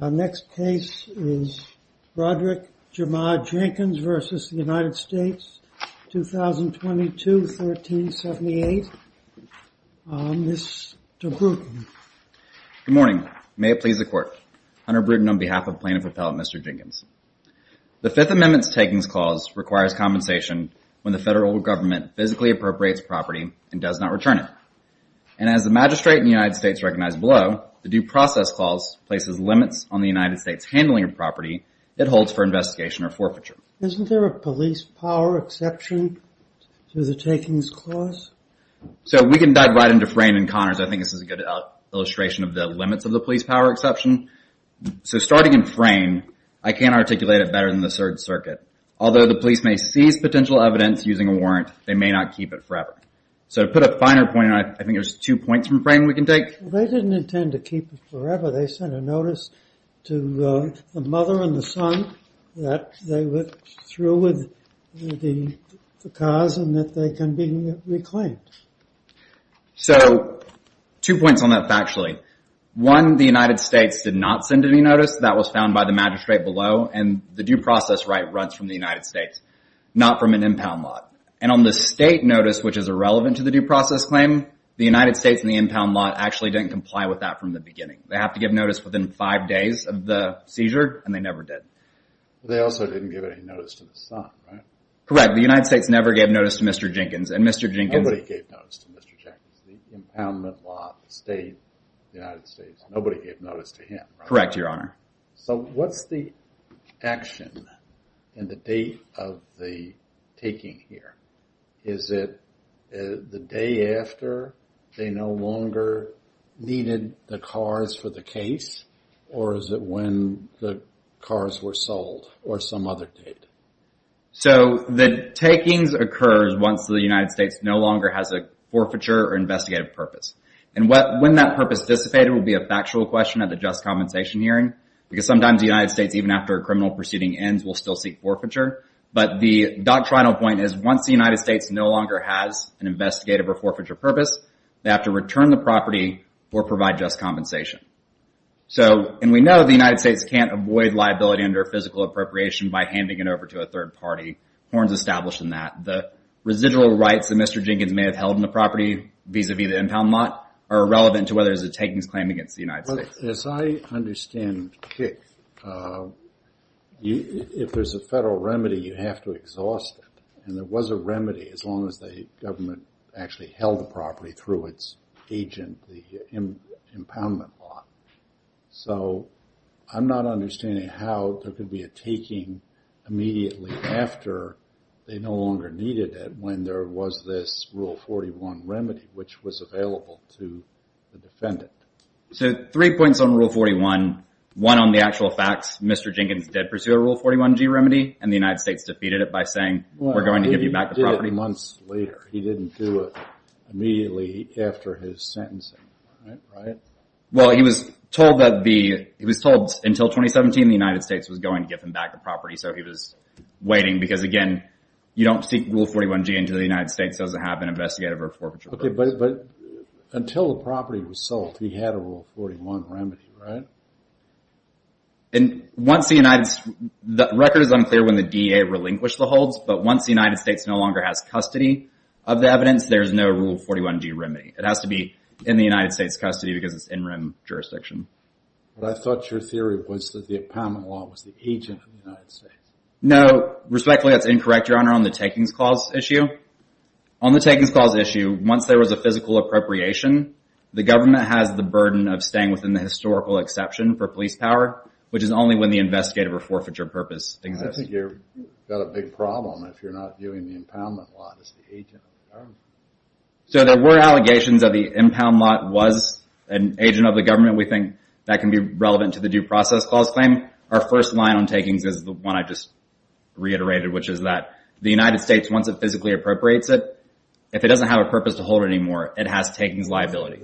Our next case is Roderick Jamar Jenkins versus the United States, 2022, 1378. Mr. Brewton. Good morning. May it please the court. Hunter Brewton on behalf of plaintiff appellate Mr. Jenkins. The Fifth Amendment's takings clause requires compensation when the federal government physically appropriates property and does not return it. And as the magistrate in the United The due process clause places limits on the United States handling of property that holds for investigation or forfeiture. Isn't there a police power exception to the takings clause? So we can dive right into Frayne and Connors. I think this is a good illustration of the limits of the police power exception. So starting in Frayne, I can't articulate it better than the Third Circuit. Although the police may seize potential evidence using a warrant, they may not keep it forever. So to put a finer point, I think there's two points from Frayne They didn't intend to keep it forever. They sent a notice to the mother and the son that they were through with the cause and that they can be reclaimed. So two points on that factually. One, the United States did not send any notice. That was found by the magistrate below. And the due process right runs from the United States, not from an impound lot. And on the state notice, which is irrelevant to the due process claim, the United States and actually didn't comply with that from the beginning. They have to give notice within five days of the seizure, and they never did. They also didn't give any notice to the son, right? Correct. The United States never gave notice to Mr. Jenkins and Mr. Jenkins... Nobody gave notice to Mr. Jenkins. The impoundment lot, the state, the United States, nobody gave notice to him, right? Correct, Your Honor. So what's the action and the date of the taking here? Is it the day after they no longer needed the cars for the case? Or is it when the cars were sold or some other date? So the takings occurs once the United States no longer has a forfeiture or investigative purpose. And when that purpose dissipated will be a factual question at the just compensation hearing, because sometimes the United States, even after a criminal proceeding ends, will still seek forfeiture. But the doctrinal point is once the United States no longer has an investigative or forfeiture purpose, they have to return the property or provide just compensation. So, and we know the United States can't avoid liability under physical appropriation by handing it over to a third party. Horn's established in that. The residual rights that Mr. Jenkins may have held in the property vis-a-vis the impound lot are irrelevant to whether there's a takings claim against the United States. As I understand it, if there's a federal remedy, you have to exhaust it. And there was a remedy as long as the government actually held the property through its agent, the impoundment lot. So I'm not understanding how there could be a taking immediately after they no longer needed it when there was this rule 41 remedy, which was available to the defendant. So three points on rule 41. One on the actual facts, Mr. Jenkins did pursue a rule 41 G remedy and the United States defeated it by saying, we're going to give you back the property months later. He didn't do it immediately after his sentencing. Right. Well, he was told that the, he was told until 2017, the United States was going to give him back the property. So he was waiting because again, you don't seek rule 41 G until the United States doesn't have an investigative or forfeiture. But until the property was sold, he had a rule 41 remedy, right? And once the United, the record is unclear when the DEA relinquished the holds, but once the United States no longer has custody of the evidence, there's no rule 41 G remedy. It has to be in the United States custody because it's in room jurisdiction. But I thought your theory was that the empowerment law was the agent of the United States. No respectfully, that's incorrect. Your honor on the takings clause issue on the takings clause issue. Once there was a physical appropriation, the government has the burden of staying within the historical exception for police power, which is only when the investigative or forfeiture purpose exists. I think you're got a big problem if you're not viewing the impoundment law as the agent. So there were allegations of the impound lot was an agent of the government. We think that can be relevant to the due process clause claim. Our first line on takings is the one I just reiterated, which is that the United States, once it physically appropriates it, if it doesn't have a purpose to hold it anymore, it has takings liability.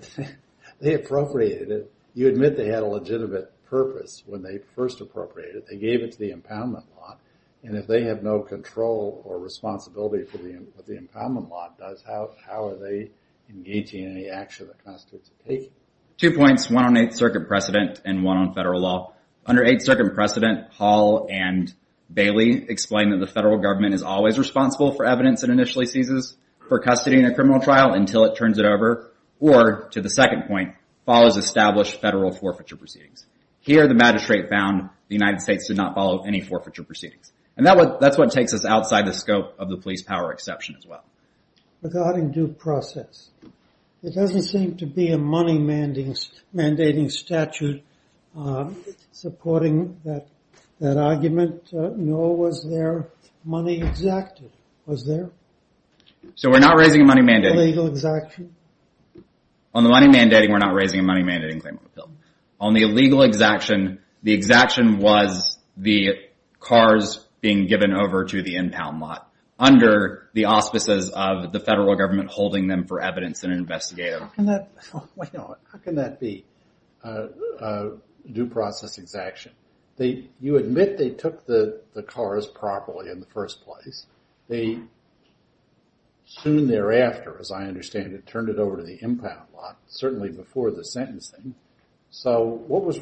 They appropriated it. You admit they had a legitimate purpose when they first appropriated it. They gave it to the impoundment law. And if they have no control or responsibility for the impoundment law, how are they engaging in any action that constitutes a taking? Two points, one on Eighth Circuit precedent and one on federal law. Under Eighth Circuit precedent, Hall and Bailey explained that the federal government is always responsible for evidence it initially seizes for custody in a criminal trial until it turns it over or, to the second point, follows established federal forfeiture proceedings. Here, the magistrate found the United States did not follow any forfeiture proceedings. And that's what takes us outside the scope of the police power exception as well. Regarding due process, it doesn't seem to be a money mandating statute supporting that argument, nor was there money exacted. Was there? So we're not raising a money mandating. Illegal exaction? On the money mandating, we're not raising a money mandating claim on the bill. On the impound lot, under the auspices of the federal government holding them for evidence and investigative. How can that be a due process exaction? You admit they took the cars properly in the first place. They soon thereafter, as I understand it, turned it over to the impound lot, certainly before the sentencing. So what was,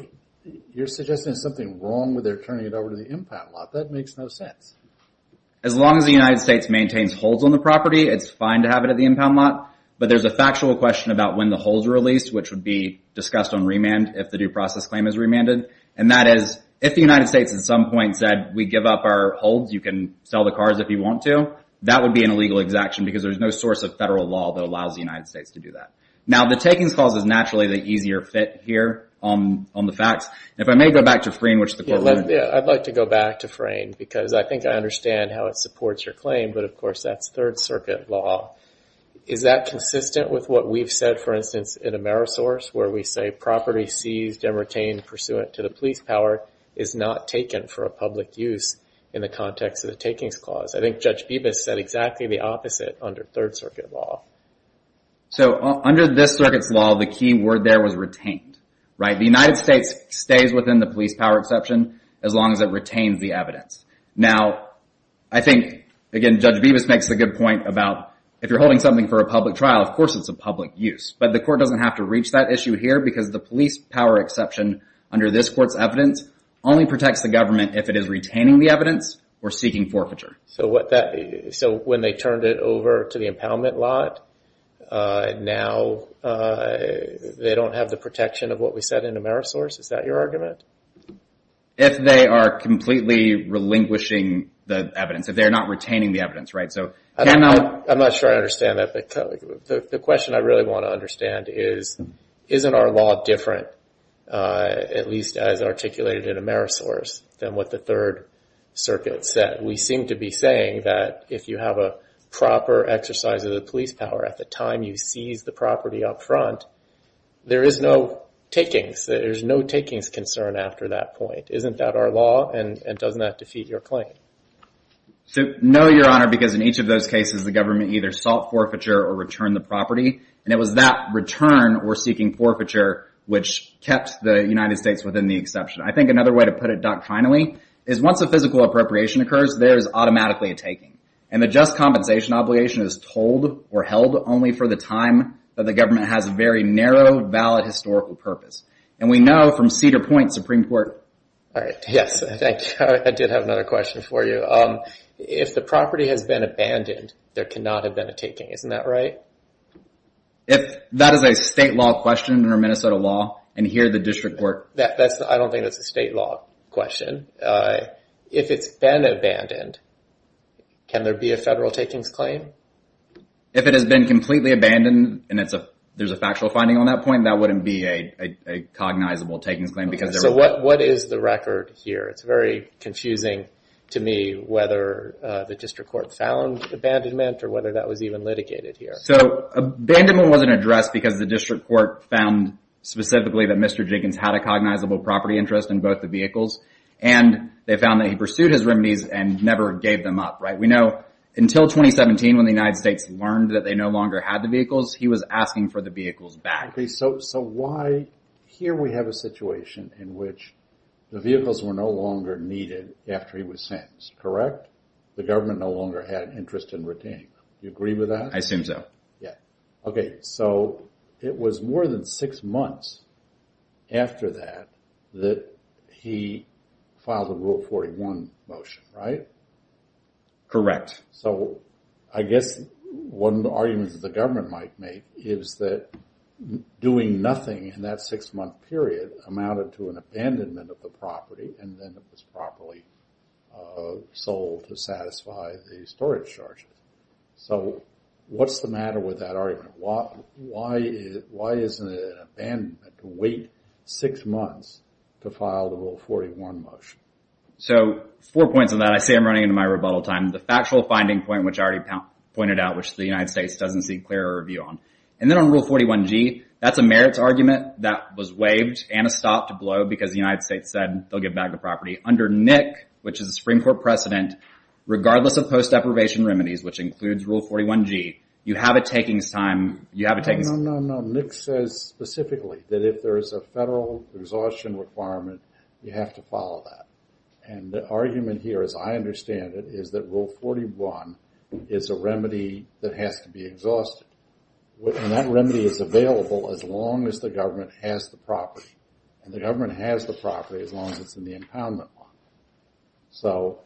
you're suggesting something wrong with their turning it over to the impound lot? That makes no sense. As long as the United States maintains holds on the property, it's fine to have it at the impound lot. But there's a factual question about when the holds were released, which would be discussed on remand if the due process claim is remanded. And that is, if the United States at some point said, we give up our holds, you can sell the cars if you want to, that would be an illegal exaction because there's no source of federal law that allows the United States to do that. Now, the takings clause is naturally the easier fit here on the facts. If I may go back to Frayne, which the court- I'd like to go back to Frayne because I think I understand how it supports your claim, but of course that's Third Circuit law. Is that consistent with what we've said, for instance, in Amerisource, where we say property seized and retained pursuant to the police power is not taken for a public use in the context of the takings clause? I think Judge Bibas said exactly the opposite under Third Circuit law. So under this circuit's law, the key word there was retained. The United States stays within the police power exception as long as it retains the evidence. Now, I think, again, Judge Bibas makes a good point about if you're holding something for a public trial, of course it's a public use, but the court doesn't have to reach that issue here because the police power exception under this court's evidence only protects the government if it is retaining the evidence or seeking forfeiture. So when they turned it over to the impoundment lot, now they don't have the protection of what we said in Amerisource? Is that your argument? If they are completely relinquishing the evidence, if they're not retaining the evidence, right? So cannot- I'm not sure I understand that, but the question I really want to understand is, isn't our law different, at least as articulated in Amerisource, than what the Third Circuit said? We seem to be saying that if you have a proper exercise of the police power at the time you seize the property up front, there is no takings. There's no takings concern after that point. Isn't that our law, and doesn't that defeat your claim? So no, Your Honor, because in each of those cases, the government either sought forfeiture or returned the property, and it was that return or seeking forfeiture which kept the United States within the exception. I think another way to put it doctrinally is once a physical appropriation occurs, there is automatically a taking, and the just compensation obligation is told or held only for the time that the government has a very narrow valid historical purpose. And we know from Cedar Point Supreme Court- All right, yes, thank you. I did have another question for you. If the property has been abandoned, there cannot have been a taking. Isn't that right? If that is a state law question under Minnesota law, and here the question, if it's been abandoned, can there be a federal takings claim? If it has been completely abandoned, and there's a factual finding on that point, that wouldn't be a cognizable takings claim. So what is the record here? It's very confusing to me whether the district court found abandonment or whether that was even litigated here. So abandonment wasn't addressed because the district court found specifically that Mr. Jenkins had a cognizable property interest in both the vehicles, and they found that he pursued his remedies and never gave them up, right? We know until 2017 when the United States learned that they no longer had the vehicles, he was asking for the vehicles back. Okay, so why here we have a situation in which the vehicles were no longer needed after he was sentenced, correct? The government no longer had an interest in retaining Do you agree with that? I assume so. Yeah. Okay, so it was more than six months after that that he filed a Rule 41 motion, right? Correct. So I guess one argument that the government might make is that doing nothing in that six-month period amounted to an abandonment of the property, and then it was properly sold to satisfy the storage charges. So what's the matter with that argument? Why isn't it an abandonment to wait six months to file the Rule 41 motion? So four points on that. I say I'm running into my rebuttal time. The factual finding point, which I already pointed out, which the United States doesn't see clear review on. And then on Rule 41g, that's a merits argument that was waived and a stop to blow because the United States said they'll give back the property. Under NIC, which is the Supreme Court precedent, regardless of post deprivation remedies, which includes Rule 41g, you have a takings time. No, no, no. NIC says specifically that if there is a federal exhaustion requirement, you have to follow that. And the argument here, as I understand it, is that Rule 41 is a remedy that has to be exhausted. And that remedy is available as long as the government has the property. And the government has the property as long as it's in the impoundment bond. So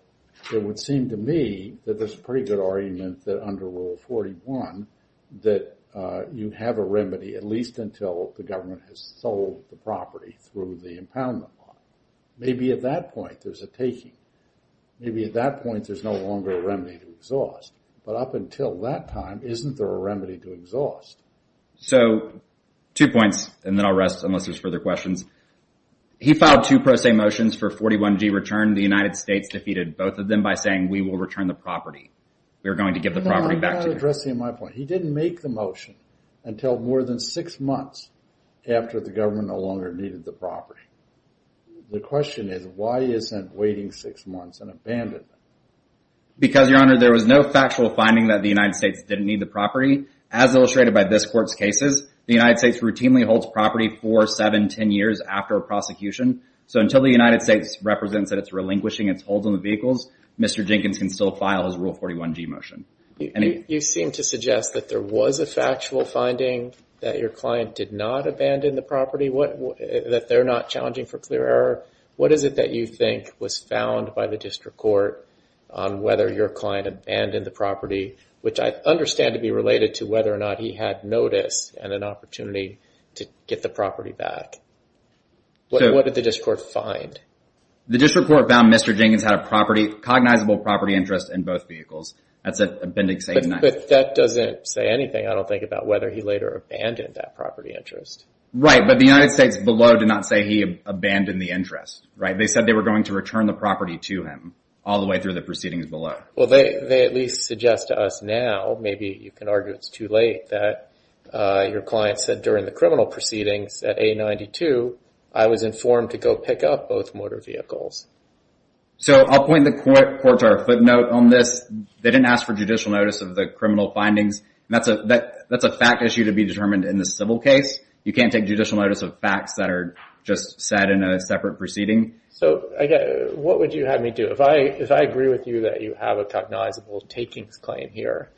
it would seem to me that there's a pretty good argument that under Rule 41 that you have a remedy at least until the government has sold the property through the impoundment bond. Maybe at that point, there's a taking. Maybe at that point, there's no longer a remedy to exhaust. But up until that time, isn't there a remedy to exhaust? So two points, and then I'll rest unless there's further questions. He filed two pro se motions for 41g return. The United States defeated both of them by saying, we will return the property. We are going to give the property back to you. No, I'm not addressing my point. He didn't make the motion until more than six months after the government no longer needed the property. The question is, why isn't waiting six months an abandonment? Because, Your Honor, there was no factual finding that the United States didn't need the property. As illustrated by this court's property for seven, 10 years after a prosecution. So until the United States represents that it's relinquishing its holds on the vehicles, Mr. Jenkins can still file his Rule 41g motion. You seem to suggest that there was a factual finding that your client did not abandon the property, that they're not challenging for clear error. What is it that you think was found by the district court on whether your client abandoned the property, which I understand to be related to whether or not he had notice and an opportunity to get the property back. What did the district court find? The district court found Mr. Jenkins had a property, cognizable property interest in both vehicles. That's a bending statement. But that doesn't say anything. I don't think about whether he later abandoned that property interest. Right. But the United States below did not say he abandoned the interest, right? They said they were going to return the property to him all the way through the proceedings below. Well, they at least suggest to us now, maybe you can argue it's too late, that your client said during the criminal proceedings at A92, I was informed to go pick up both motor vehicles. So I'll point the court to our footnote on this. They didn't ask for judicial notice of the criminal findings. That's a fact issue to be determined in the civil case. You can't take judicial notice of facts that are just said in a separate proceeding. So what would you have me do? If I agree with you that you have a takings claim here,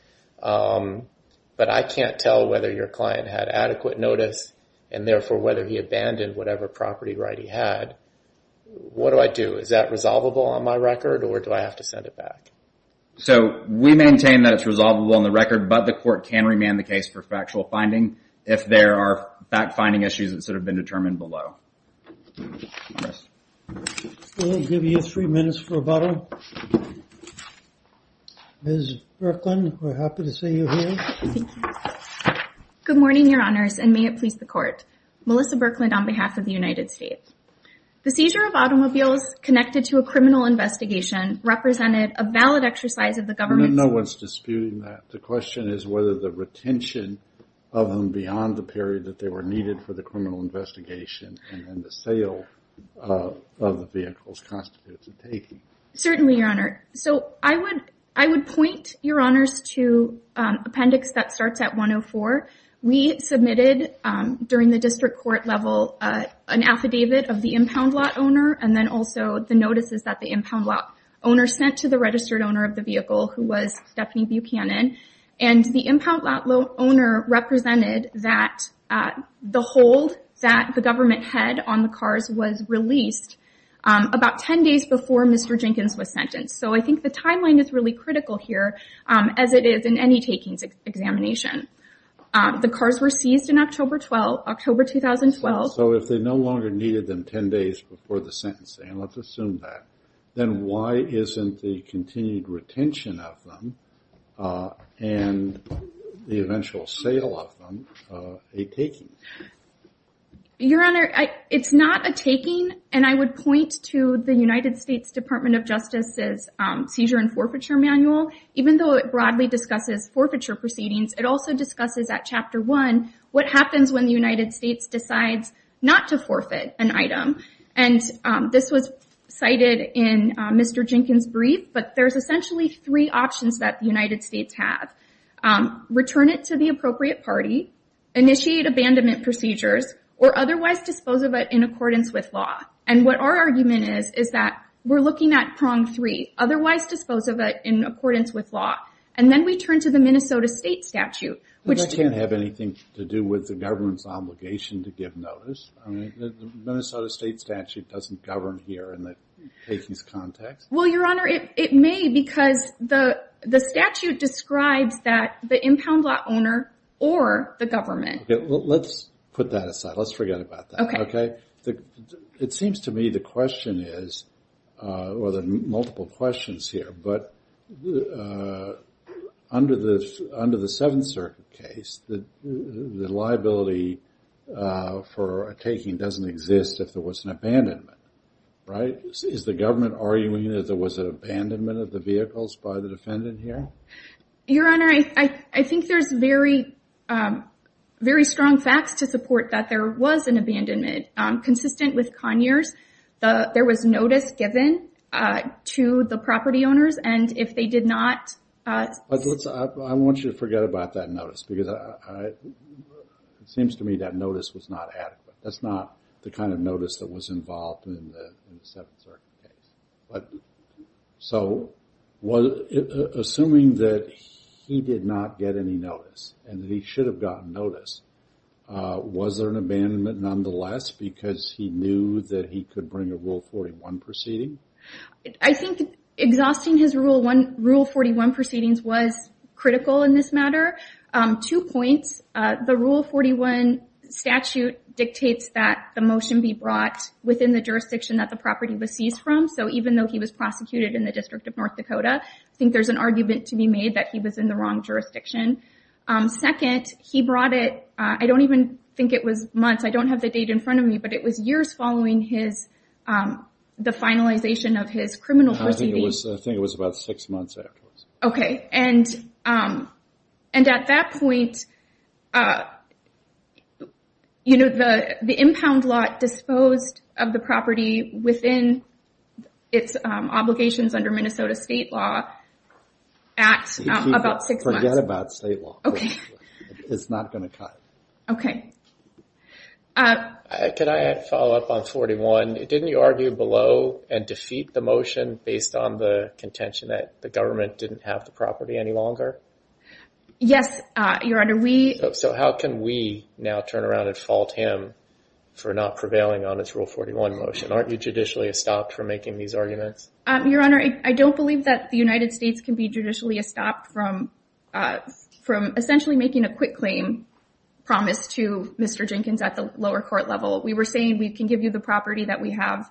but I can't tell whether your client had adequate notice and therefore whether he abandoned whatever property right he had, what do I do? Is that resolvable on my record or do I have to send it back? So we maintain that it's resolvable on the record, but the court can remand the case for factual finding if there are fact-finding issues that have been determined below. Yes. We'll give you three minutes for rebuttal. Ms. Birkland, we're happy to see you here. Thank you. Good morning, your honors, and may it please the court. Melissa Birkland on behalf of the United States. The seizure of automobiles connected to a criminal investigation represented a valid exercise of the government's... No one's disputing that. The question is whether the retention of them beyond the period that they were needed for the sale of the vehicles constitutes a taking. Certainly, your honor. So I would point your honors to appendix that starts at 104. We submitted during the district court level an affidavit of the impound lot owner and then also the notices that the impound lot owner sent to the registered owner of the vehicle, who was Stephanie Buchanan, and the impound lot owner represented that the hold that the government had on the cars was released about 10 days before Mr. Jenkins was sentenced. So I think the timeline is really critical here, as it is in any takings examination. The cars were seized in October 2012. So if they no longer needed them 10 days before the sentencing, let's assume that, then why isn't the continued retention of them and the eventual sale of them a taking? Your honor, it's not a taking. And I would point to the United States Department of Justice's seizure and forfeiture manual. Even though it broadly discusses forfeiture proceedings, it also discusses at chapter one, what happens when the United States decides not to forfeit an item. And this was cited in Mr. Jenkins' brief, but there's essentially three options that the initiate abandonment procedures, or otherwise dispose of it in accordance with law. And what our argument is, is that we're looking at prong three, otherwise dispose of it in accordance with law. And then we turn to the Minnesota state statute. Which can't have anything to do with the government's obligation to give notice. I mean, the Minnesota state statute doesn't govern here in the takings context. Well, your honor, it may because the statute describes that the impound lot owner or the government. Let's put that aside. Let's forget about that. Okay. It seems to me the question is, well, there are multiple questions here, but under the Seventh Circuit case, the liability for a taking doesn't exist if there was an abandonment, right? Is the government arguing that there was an abandonment of the vehicles by the defendant here? Your honor, I think there's very strong facts to support that there was an abandonment. Consistent with Conyers, there was notice given to the property owners, and if they did not... I want you to forget about that notice because it seems to me that notice was not adequate. That's not the kind of notice that was involved in the Seventh Circuit case. Assuming that he did not get any notice and that he should have gotten notice, was there an abandonment nonetheless because he knew that he could bring a Rule 41 proceeding? I think exhausting his Rule 41 proceedings was critical in this matter. Two points. The Rule 41 statute dictates that the motion be brought within the jurisdiction that the property was seized from. Even though he was prosecuted in the District of North Dakota, I think there's an argument to be made that he was in the wrong jurisdiction. Second, he brought it... I don't even think it was months. I don't have the date in front of me, but it was years following the finalization of his criminal proceedings. I think it was about six months afterwards. Okay. And at that point, the impound lot disposed of the property within its obligations under Minnesota state law at about six months. Forget about state law. Okay. It's not going to cut. Okay. Could I follow up on 41? Didn't you argue below and defeat the motion based on the didn't have the property any longer? Yes, Your Honor. So how can we now turn around and fault him for not prevailing on his Rule 41 motion? Aren't you judicially stopped for making these arguments? Your Honor, I don't believe that the United States can be judicially stopped from essentially making a quick claim promise to Mr. Jenkins at the lower court level. We were saying we can give you the property that we have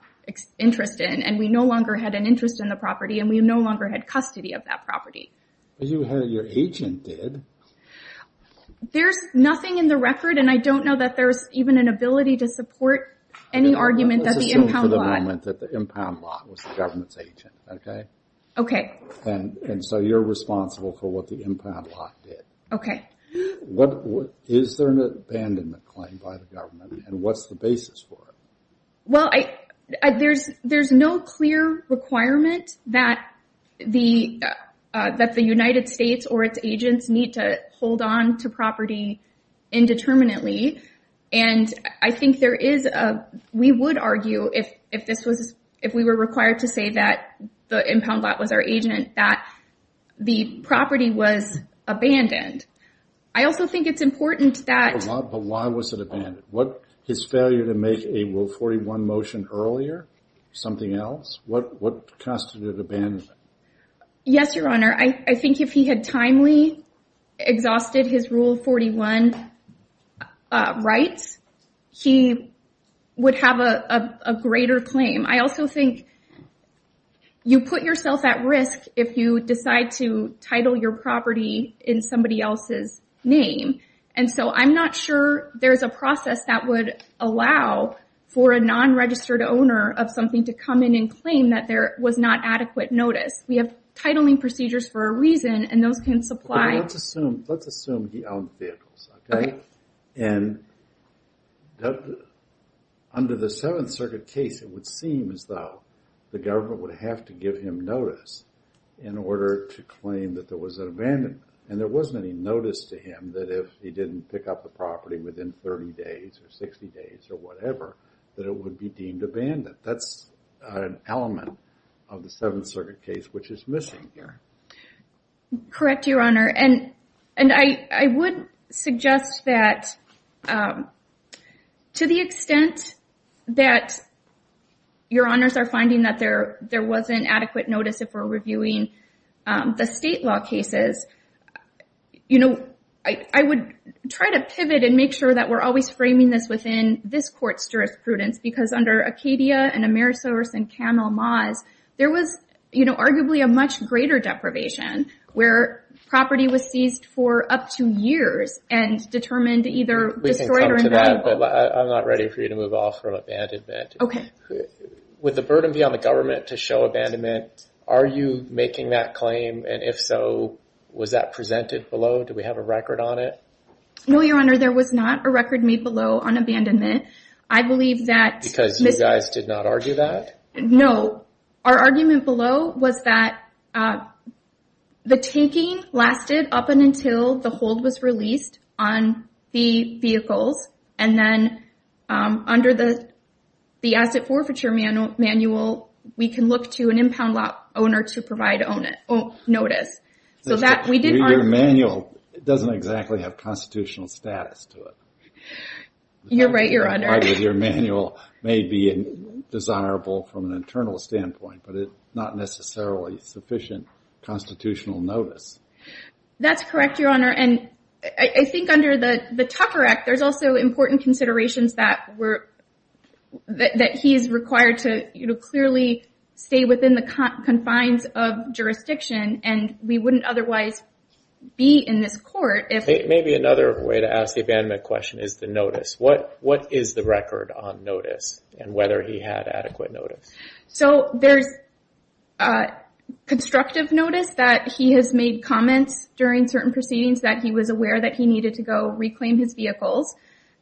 interest in, we no longer had an interest in the property, and we no longer had custody of that property. But your agent did. There's nothing in the record, and I don't know that there's even an ability to support any argument that the impound lot- Let's assume for the moment that the impound lot was the government's agent, okay? Okay. And so you're responsible for what the impound lot did. Okay. Is there an abandonment claim by the government, and what's the basis for it? Well, there's no clear requirement that the United States or its agents need to hold on to property indeterminately. And I think there is a... We would argue, if we were required to say that the impound lot was our agent, that the property was abandoned. I also think it's important that- But why was it abandoned? His failure to make a Rule 41 motion earlier? Something else? What constituted abandonment? Yes, Your Honor. I think if he had timely exhausted his Rule 41 rights, he would have a greater claim. I also think you put yourself at risk if you decide to allow for a non-registered owner of something to come in and claim that there was not adequate notice. We have titling procedures for a reason, and those can supply- Okay. Let's assume he owned vehicles, okay? And under the Seventh Circuit case, it would seem as though the government would have to give him notice in order to claim that there was an abandonment. And there wasn't any notice to him that if he didn't pick up the property within 30 days or 60 days or whatever, that it would be deemed abandoned. That's an element of the Seventh Circuit case, which is missing here. Correct, Your Honor. And I would suggest that to the extent that Your Honors are finding that there wasn't adequate notice if we're reviewing the state law cases, I would try to pivot and make sure that we're always framing this within this court's jurisprudence. Because under Acadia and Amerisource and Camel Maws, there was arguably a much greater deprivation where property was seized for up to years and determined to either- We can come to that, but I'm not ready for you to move off from abandonment. To show abandonment, are you making that claim? And if so, was that presented below? Do we have a record on it? No, Your Honor. There was not a record made below on abandonment. I believe that- Because you guys did not argue that? No. Our argument below was that the taking lasted up until the hold was released on the vehicles. And then under the Asset Forfeiture Manual, we can look to an impound lot owner to provide notice. Your manual doesn't exactly have constitutional status to it. You're right, Your Honor. Your manual may be desirable from an internal standpoint, but it's not necessarily sufficient constitutional notice. That's correct, Your Honor. And I think under the Tucker Act, there's also important considerations that he is required to clearly stay within the confines of jurisdiction and we wouldn't otherwise be in this court if- Maybe another way to ask the abandonment question is the notice. What is the record on notice and whether he had adequate notice? So there's constructive notice that he has made comments during certain proceedings that he was aware that he needed to go reclaim his vehicles.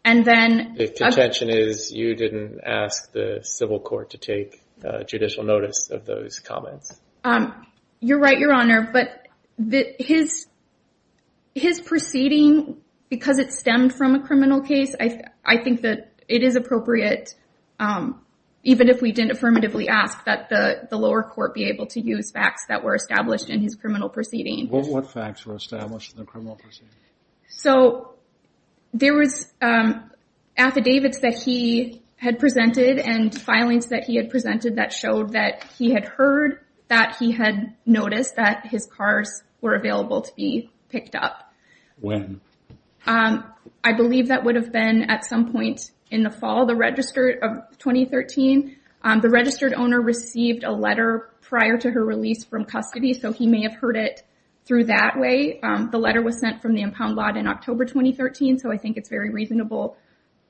And then- The contention is you didn't ask the civil court to take judicial notice of those comments. You're right, Your Honor. But his proceeding, because it stemmed from a criminal case, I think that it is appropriate even if we didn't affirmatively ask that the lower court be able to use facts that were established in his criminal proceeding. What facts were established in the criminal proceeding? So there was affidavits that he had presented and filings that he had presented that showed that he had heard that he had noticed that his cars were available to be picked up. When? I believe that would have been at some point in the fall of 2013. The registered owner received a letter prior to her release from custody, so he may have heard it through that way. The letter was sent from the impound lot in October 2013, so I think it's very reasonable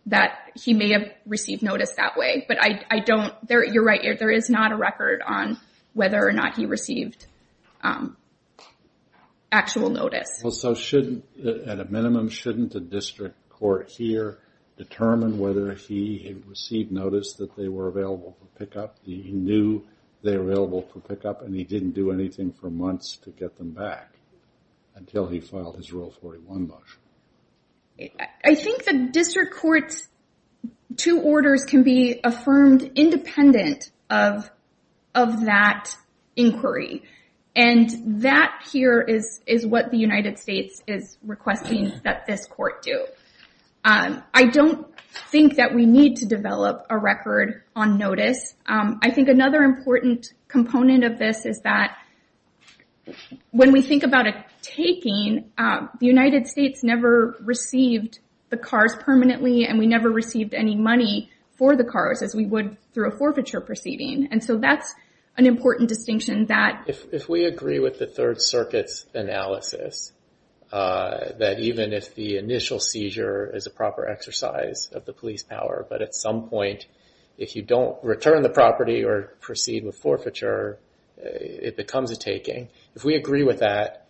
that he may have received notice that way. But I don't- You're right, there is not a record on whether or not he received actual notice. So shouldn't, at a minimum, shouldn't the district court here determine whether he received notice that they were available for pickup? He knew they were available for pickup and he didn't do anything for months to get them back until he filed his Rule 41 motion. I think the district court's two orders can be affirmed independent of that inquiry. And that here is what the United States is requesting that this court do. I don't think that we need to develop a record on notice. I think another important component of this is that when we think about a taking, the United States never received the cars permanently and we never received any money for the cars as we would through a forfeiture proceeding. And so that's an important distinction that- If we agree with the Third Circuit's analysis, that even if the initial seizure is a proper exercise of the police power, but at some point if you don't return the property or proceed with forfeiture, it becomes a taking. If we agree with that,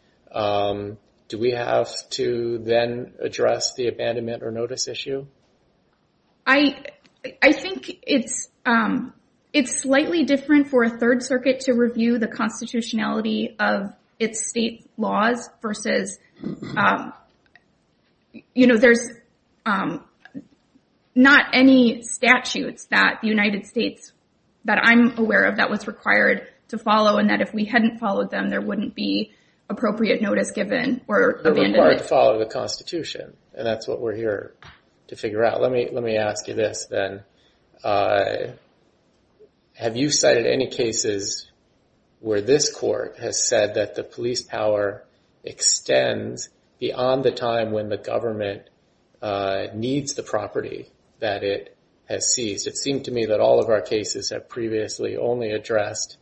do we have to then address the abandonment or notice issue? I think it's slightly different for a Third Circuit to review the constitutionality of its state laws versus- There's not any statutes that the United States, that I'm aware of, was required to follow and that if we hadn't followed them, there wouldn't be appropriate notice given or abandonment. They're required to follow the constitution. And that's what we're here to figure out. Let me ask you this then. Have you cited any cases where this court has said that the police power extends beyond the time when the government needs the property that it has seized? It seemed to me that all of our cases have addressed,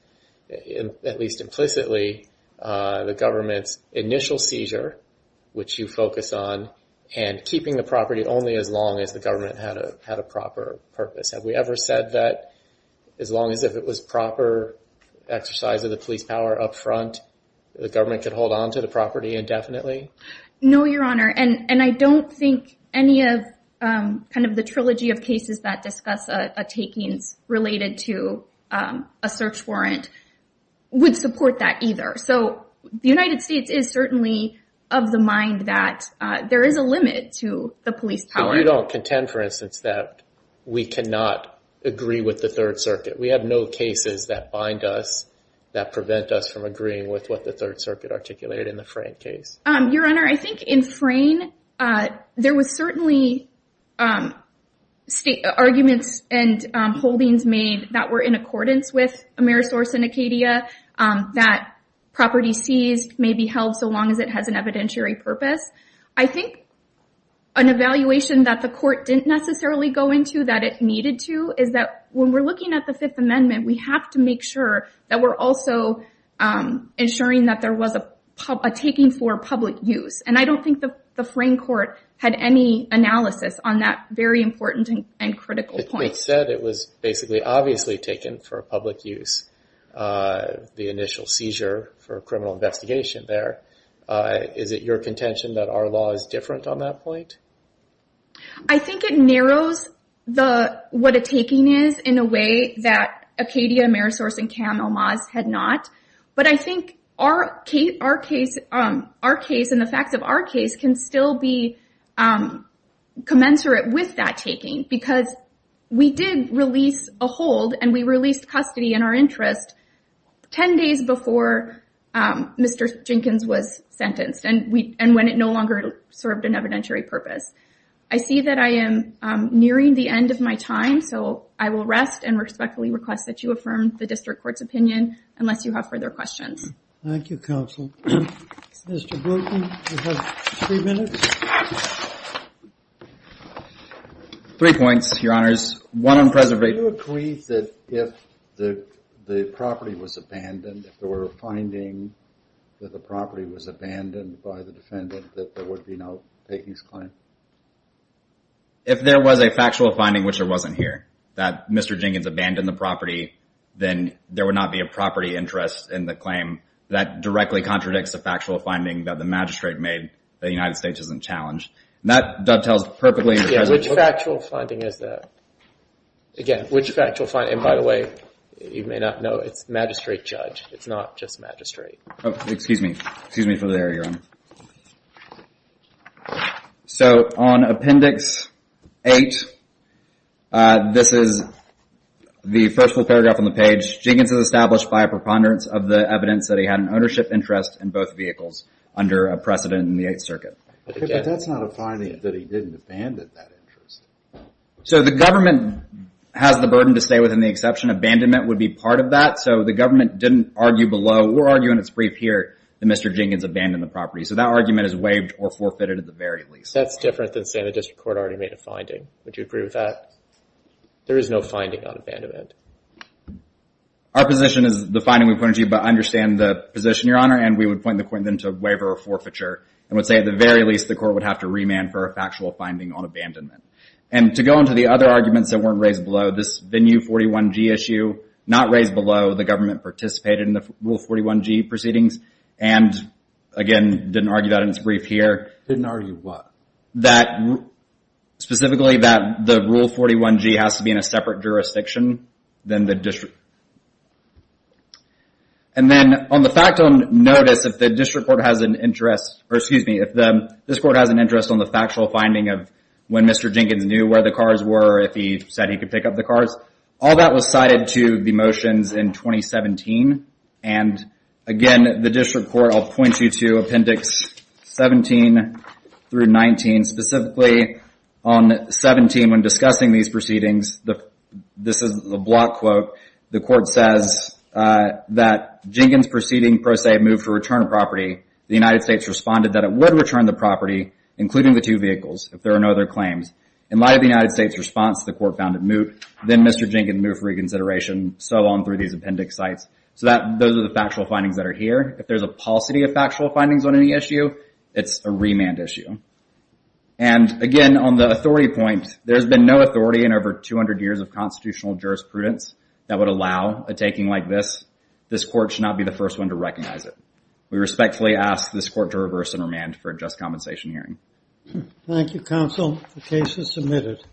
at least implicitly, the government's initial seizure, which you focus on, and keeping the property only as long as the government had a proper purpose. Have we ever said that as long as it was proper exercise of the police power up front, the government could hold on to the property indefinitely? No, Your Honor. And I don't think any of the trilogy of cases that discuss takings related to a search warrant would support that either. So the United States is certainly of the mind that there is a limit to the police power. But you don't contend, for instance, that we cannot agree with the Third Circuit? We have no cases that bind us, that prevent us from agreeing with what the Third Circuit articulated in the Frayne case. Your Honor, I think in Frayne, there was certainly arguments and holdings made that were in accordance with Amerisource and Acadia, that property seized may be held so long as it has an evidentiary purpose. I think an evaluation that the court didn't necessarily go into, that it needed to, is that when we're looking at the taking for public use. And I don't think the Frayne court had any analysis on that very important and critical point. It said it was basically obviously taken for public use, the initial seizure for criminal investigation there. Is it your contention that our law is different on that point? I think it narrows what a taking is in a way that Acadia, Amerisource, and Cam Elmaz had not. But I think our case and the facts of our case can still be commensurate with that taking because we did release a hold and we released custody in our interest 10 days before Mr. Jenkins was sentenced and when it no longer served an evidentiary purpose. I see that I am nearing the end of my time, so I will rest and respectfully request that you affirm the district court's opinion unless you have further questions. Thank you, counsel. Mr. Bruton, you have three minutes. Three points, your honors. One on preservation. Do you agree that if the property was abandoned, if there were a finding that the property was abandoned by the defendant, that there would be no takings claim? If there was a factual finding which there wasn't here, that Mr. Jenkins abandoned the property, then there would not be a property interest in the claim. That directly contradicts the factual finding that the magistrate made that the United States isn't challenged. That dovetails perfectly. Which factual finding is that? Again, which factual finding? And by the way, you may not know, it's magistrate judge. It's not just magistrate. Oh, excuse me. Excuse me for the error, your honor. So on Appendix 8, this is the first full paragraph on the page. Jenkins is established by a preponderance of the evidence that he had an ownership interest in both vehicles under a precedent in the Eighth Circuit. But that's not a finding that he didn't abandon that interest. So the government has the burden to stay within the exception. Abandonment would be part of that. So the government didn't argue below or argue in its brief here that Mr. Jenkins abandoned the property. So that argument is waived or forfeited at the very least. That's different than saying the district court already made a finding. Would you agree with that? There is no finding on abandonment. Our position is the finding we pointed to, but I understand the position, your honor. And we would point the point then to a waiver or forfeiture. And would say at the very least, the court would have to remand for a factual finding on abandonment. And to go into the other arguments that weren't raised below, this venue 41G issue, not raised below, the government participated in the rule 41G proceedings. And again, didn't argue that in its brief here. Didn't argue what? That specifically that the rule 41G has to be in a separate jurisdiction than the district. And then on the fact on notice, if the district court has an interest, or excuse me, if this court has an interest, they can pick up the cars. All that was cited to the motions in 2017. And again, the district court, I'll point you to appendix 17 through 19. Specifically on 17, when discussing these proceedings, this is the block quote. The court says that Jenkins proceeding, pro se, moved to return a property. The United States responded that it would return the property, including the two vehicles, if there are no other claims. In light of the United States response, the court found that Mr. Jenkins moved for reconsideration, so on through these appendix sites. So those are the factual findings that are here. If there's a paucity of factual findings on any issue, it's a remand issue. And again, on the authority point, there's been no authority in over 200 years of constitutional jurisprudence that would allow a taking like this. This court should not be the first one to recognize it. We respectfully ask this court to reverse and remand for a just compensation hearing. Thank you, counsel. The case is submitted.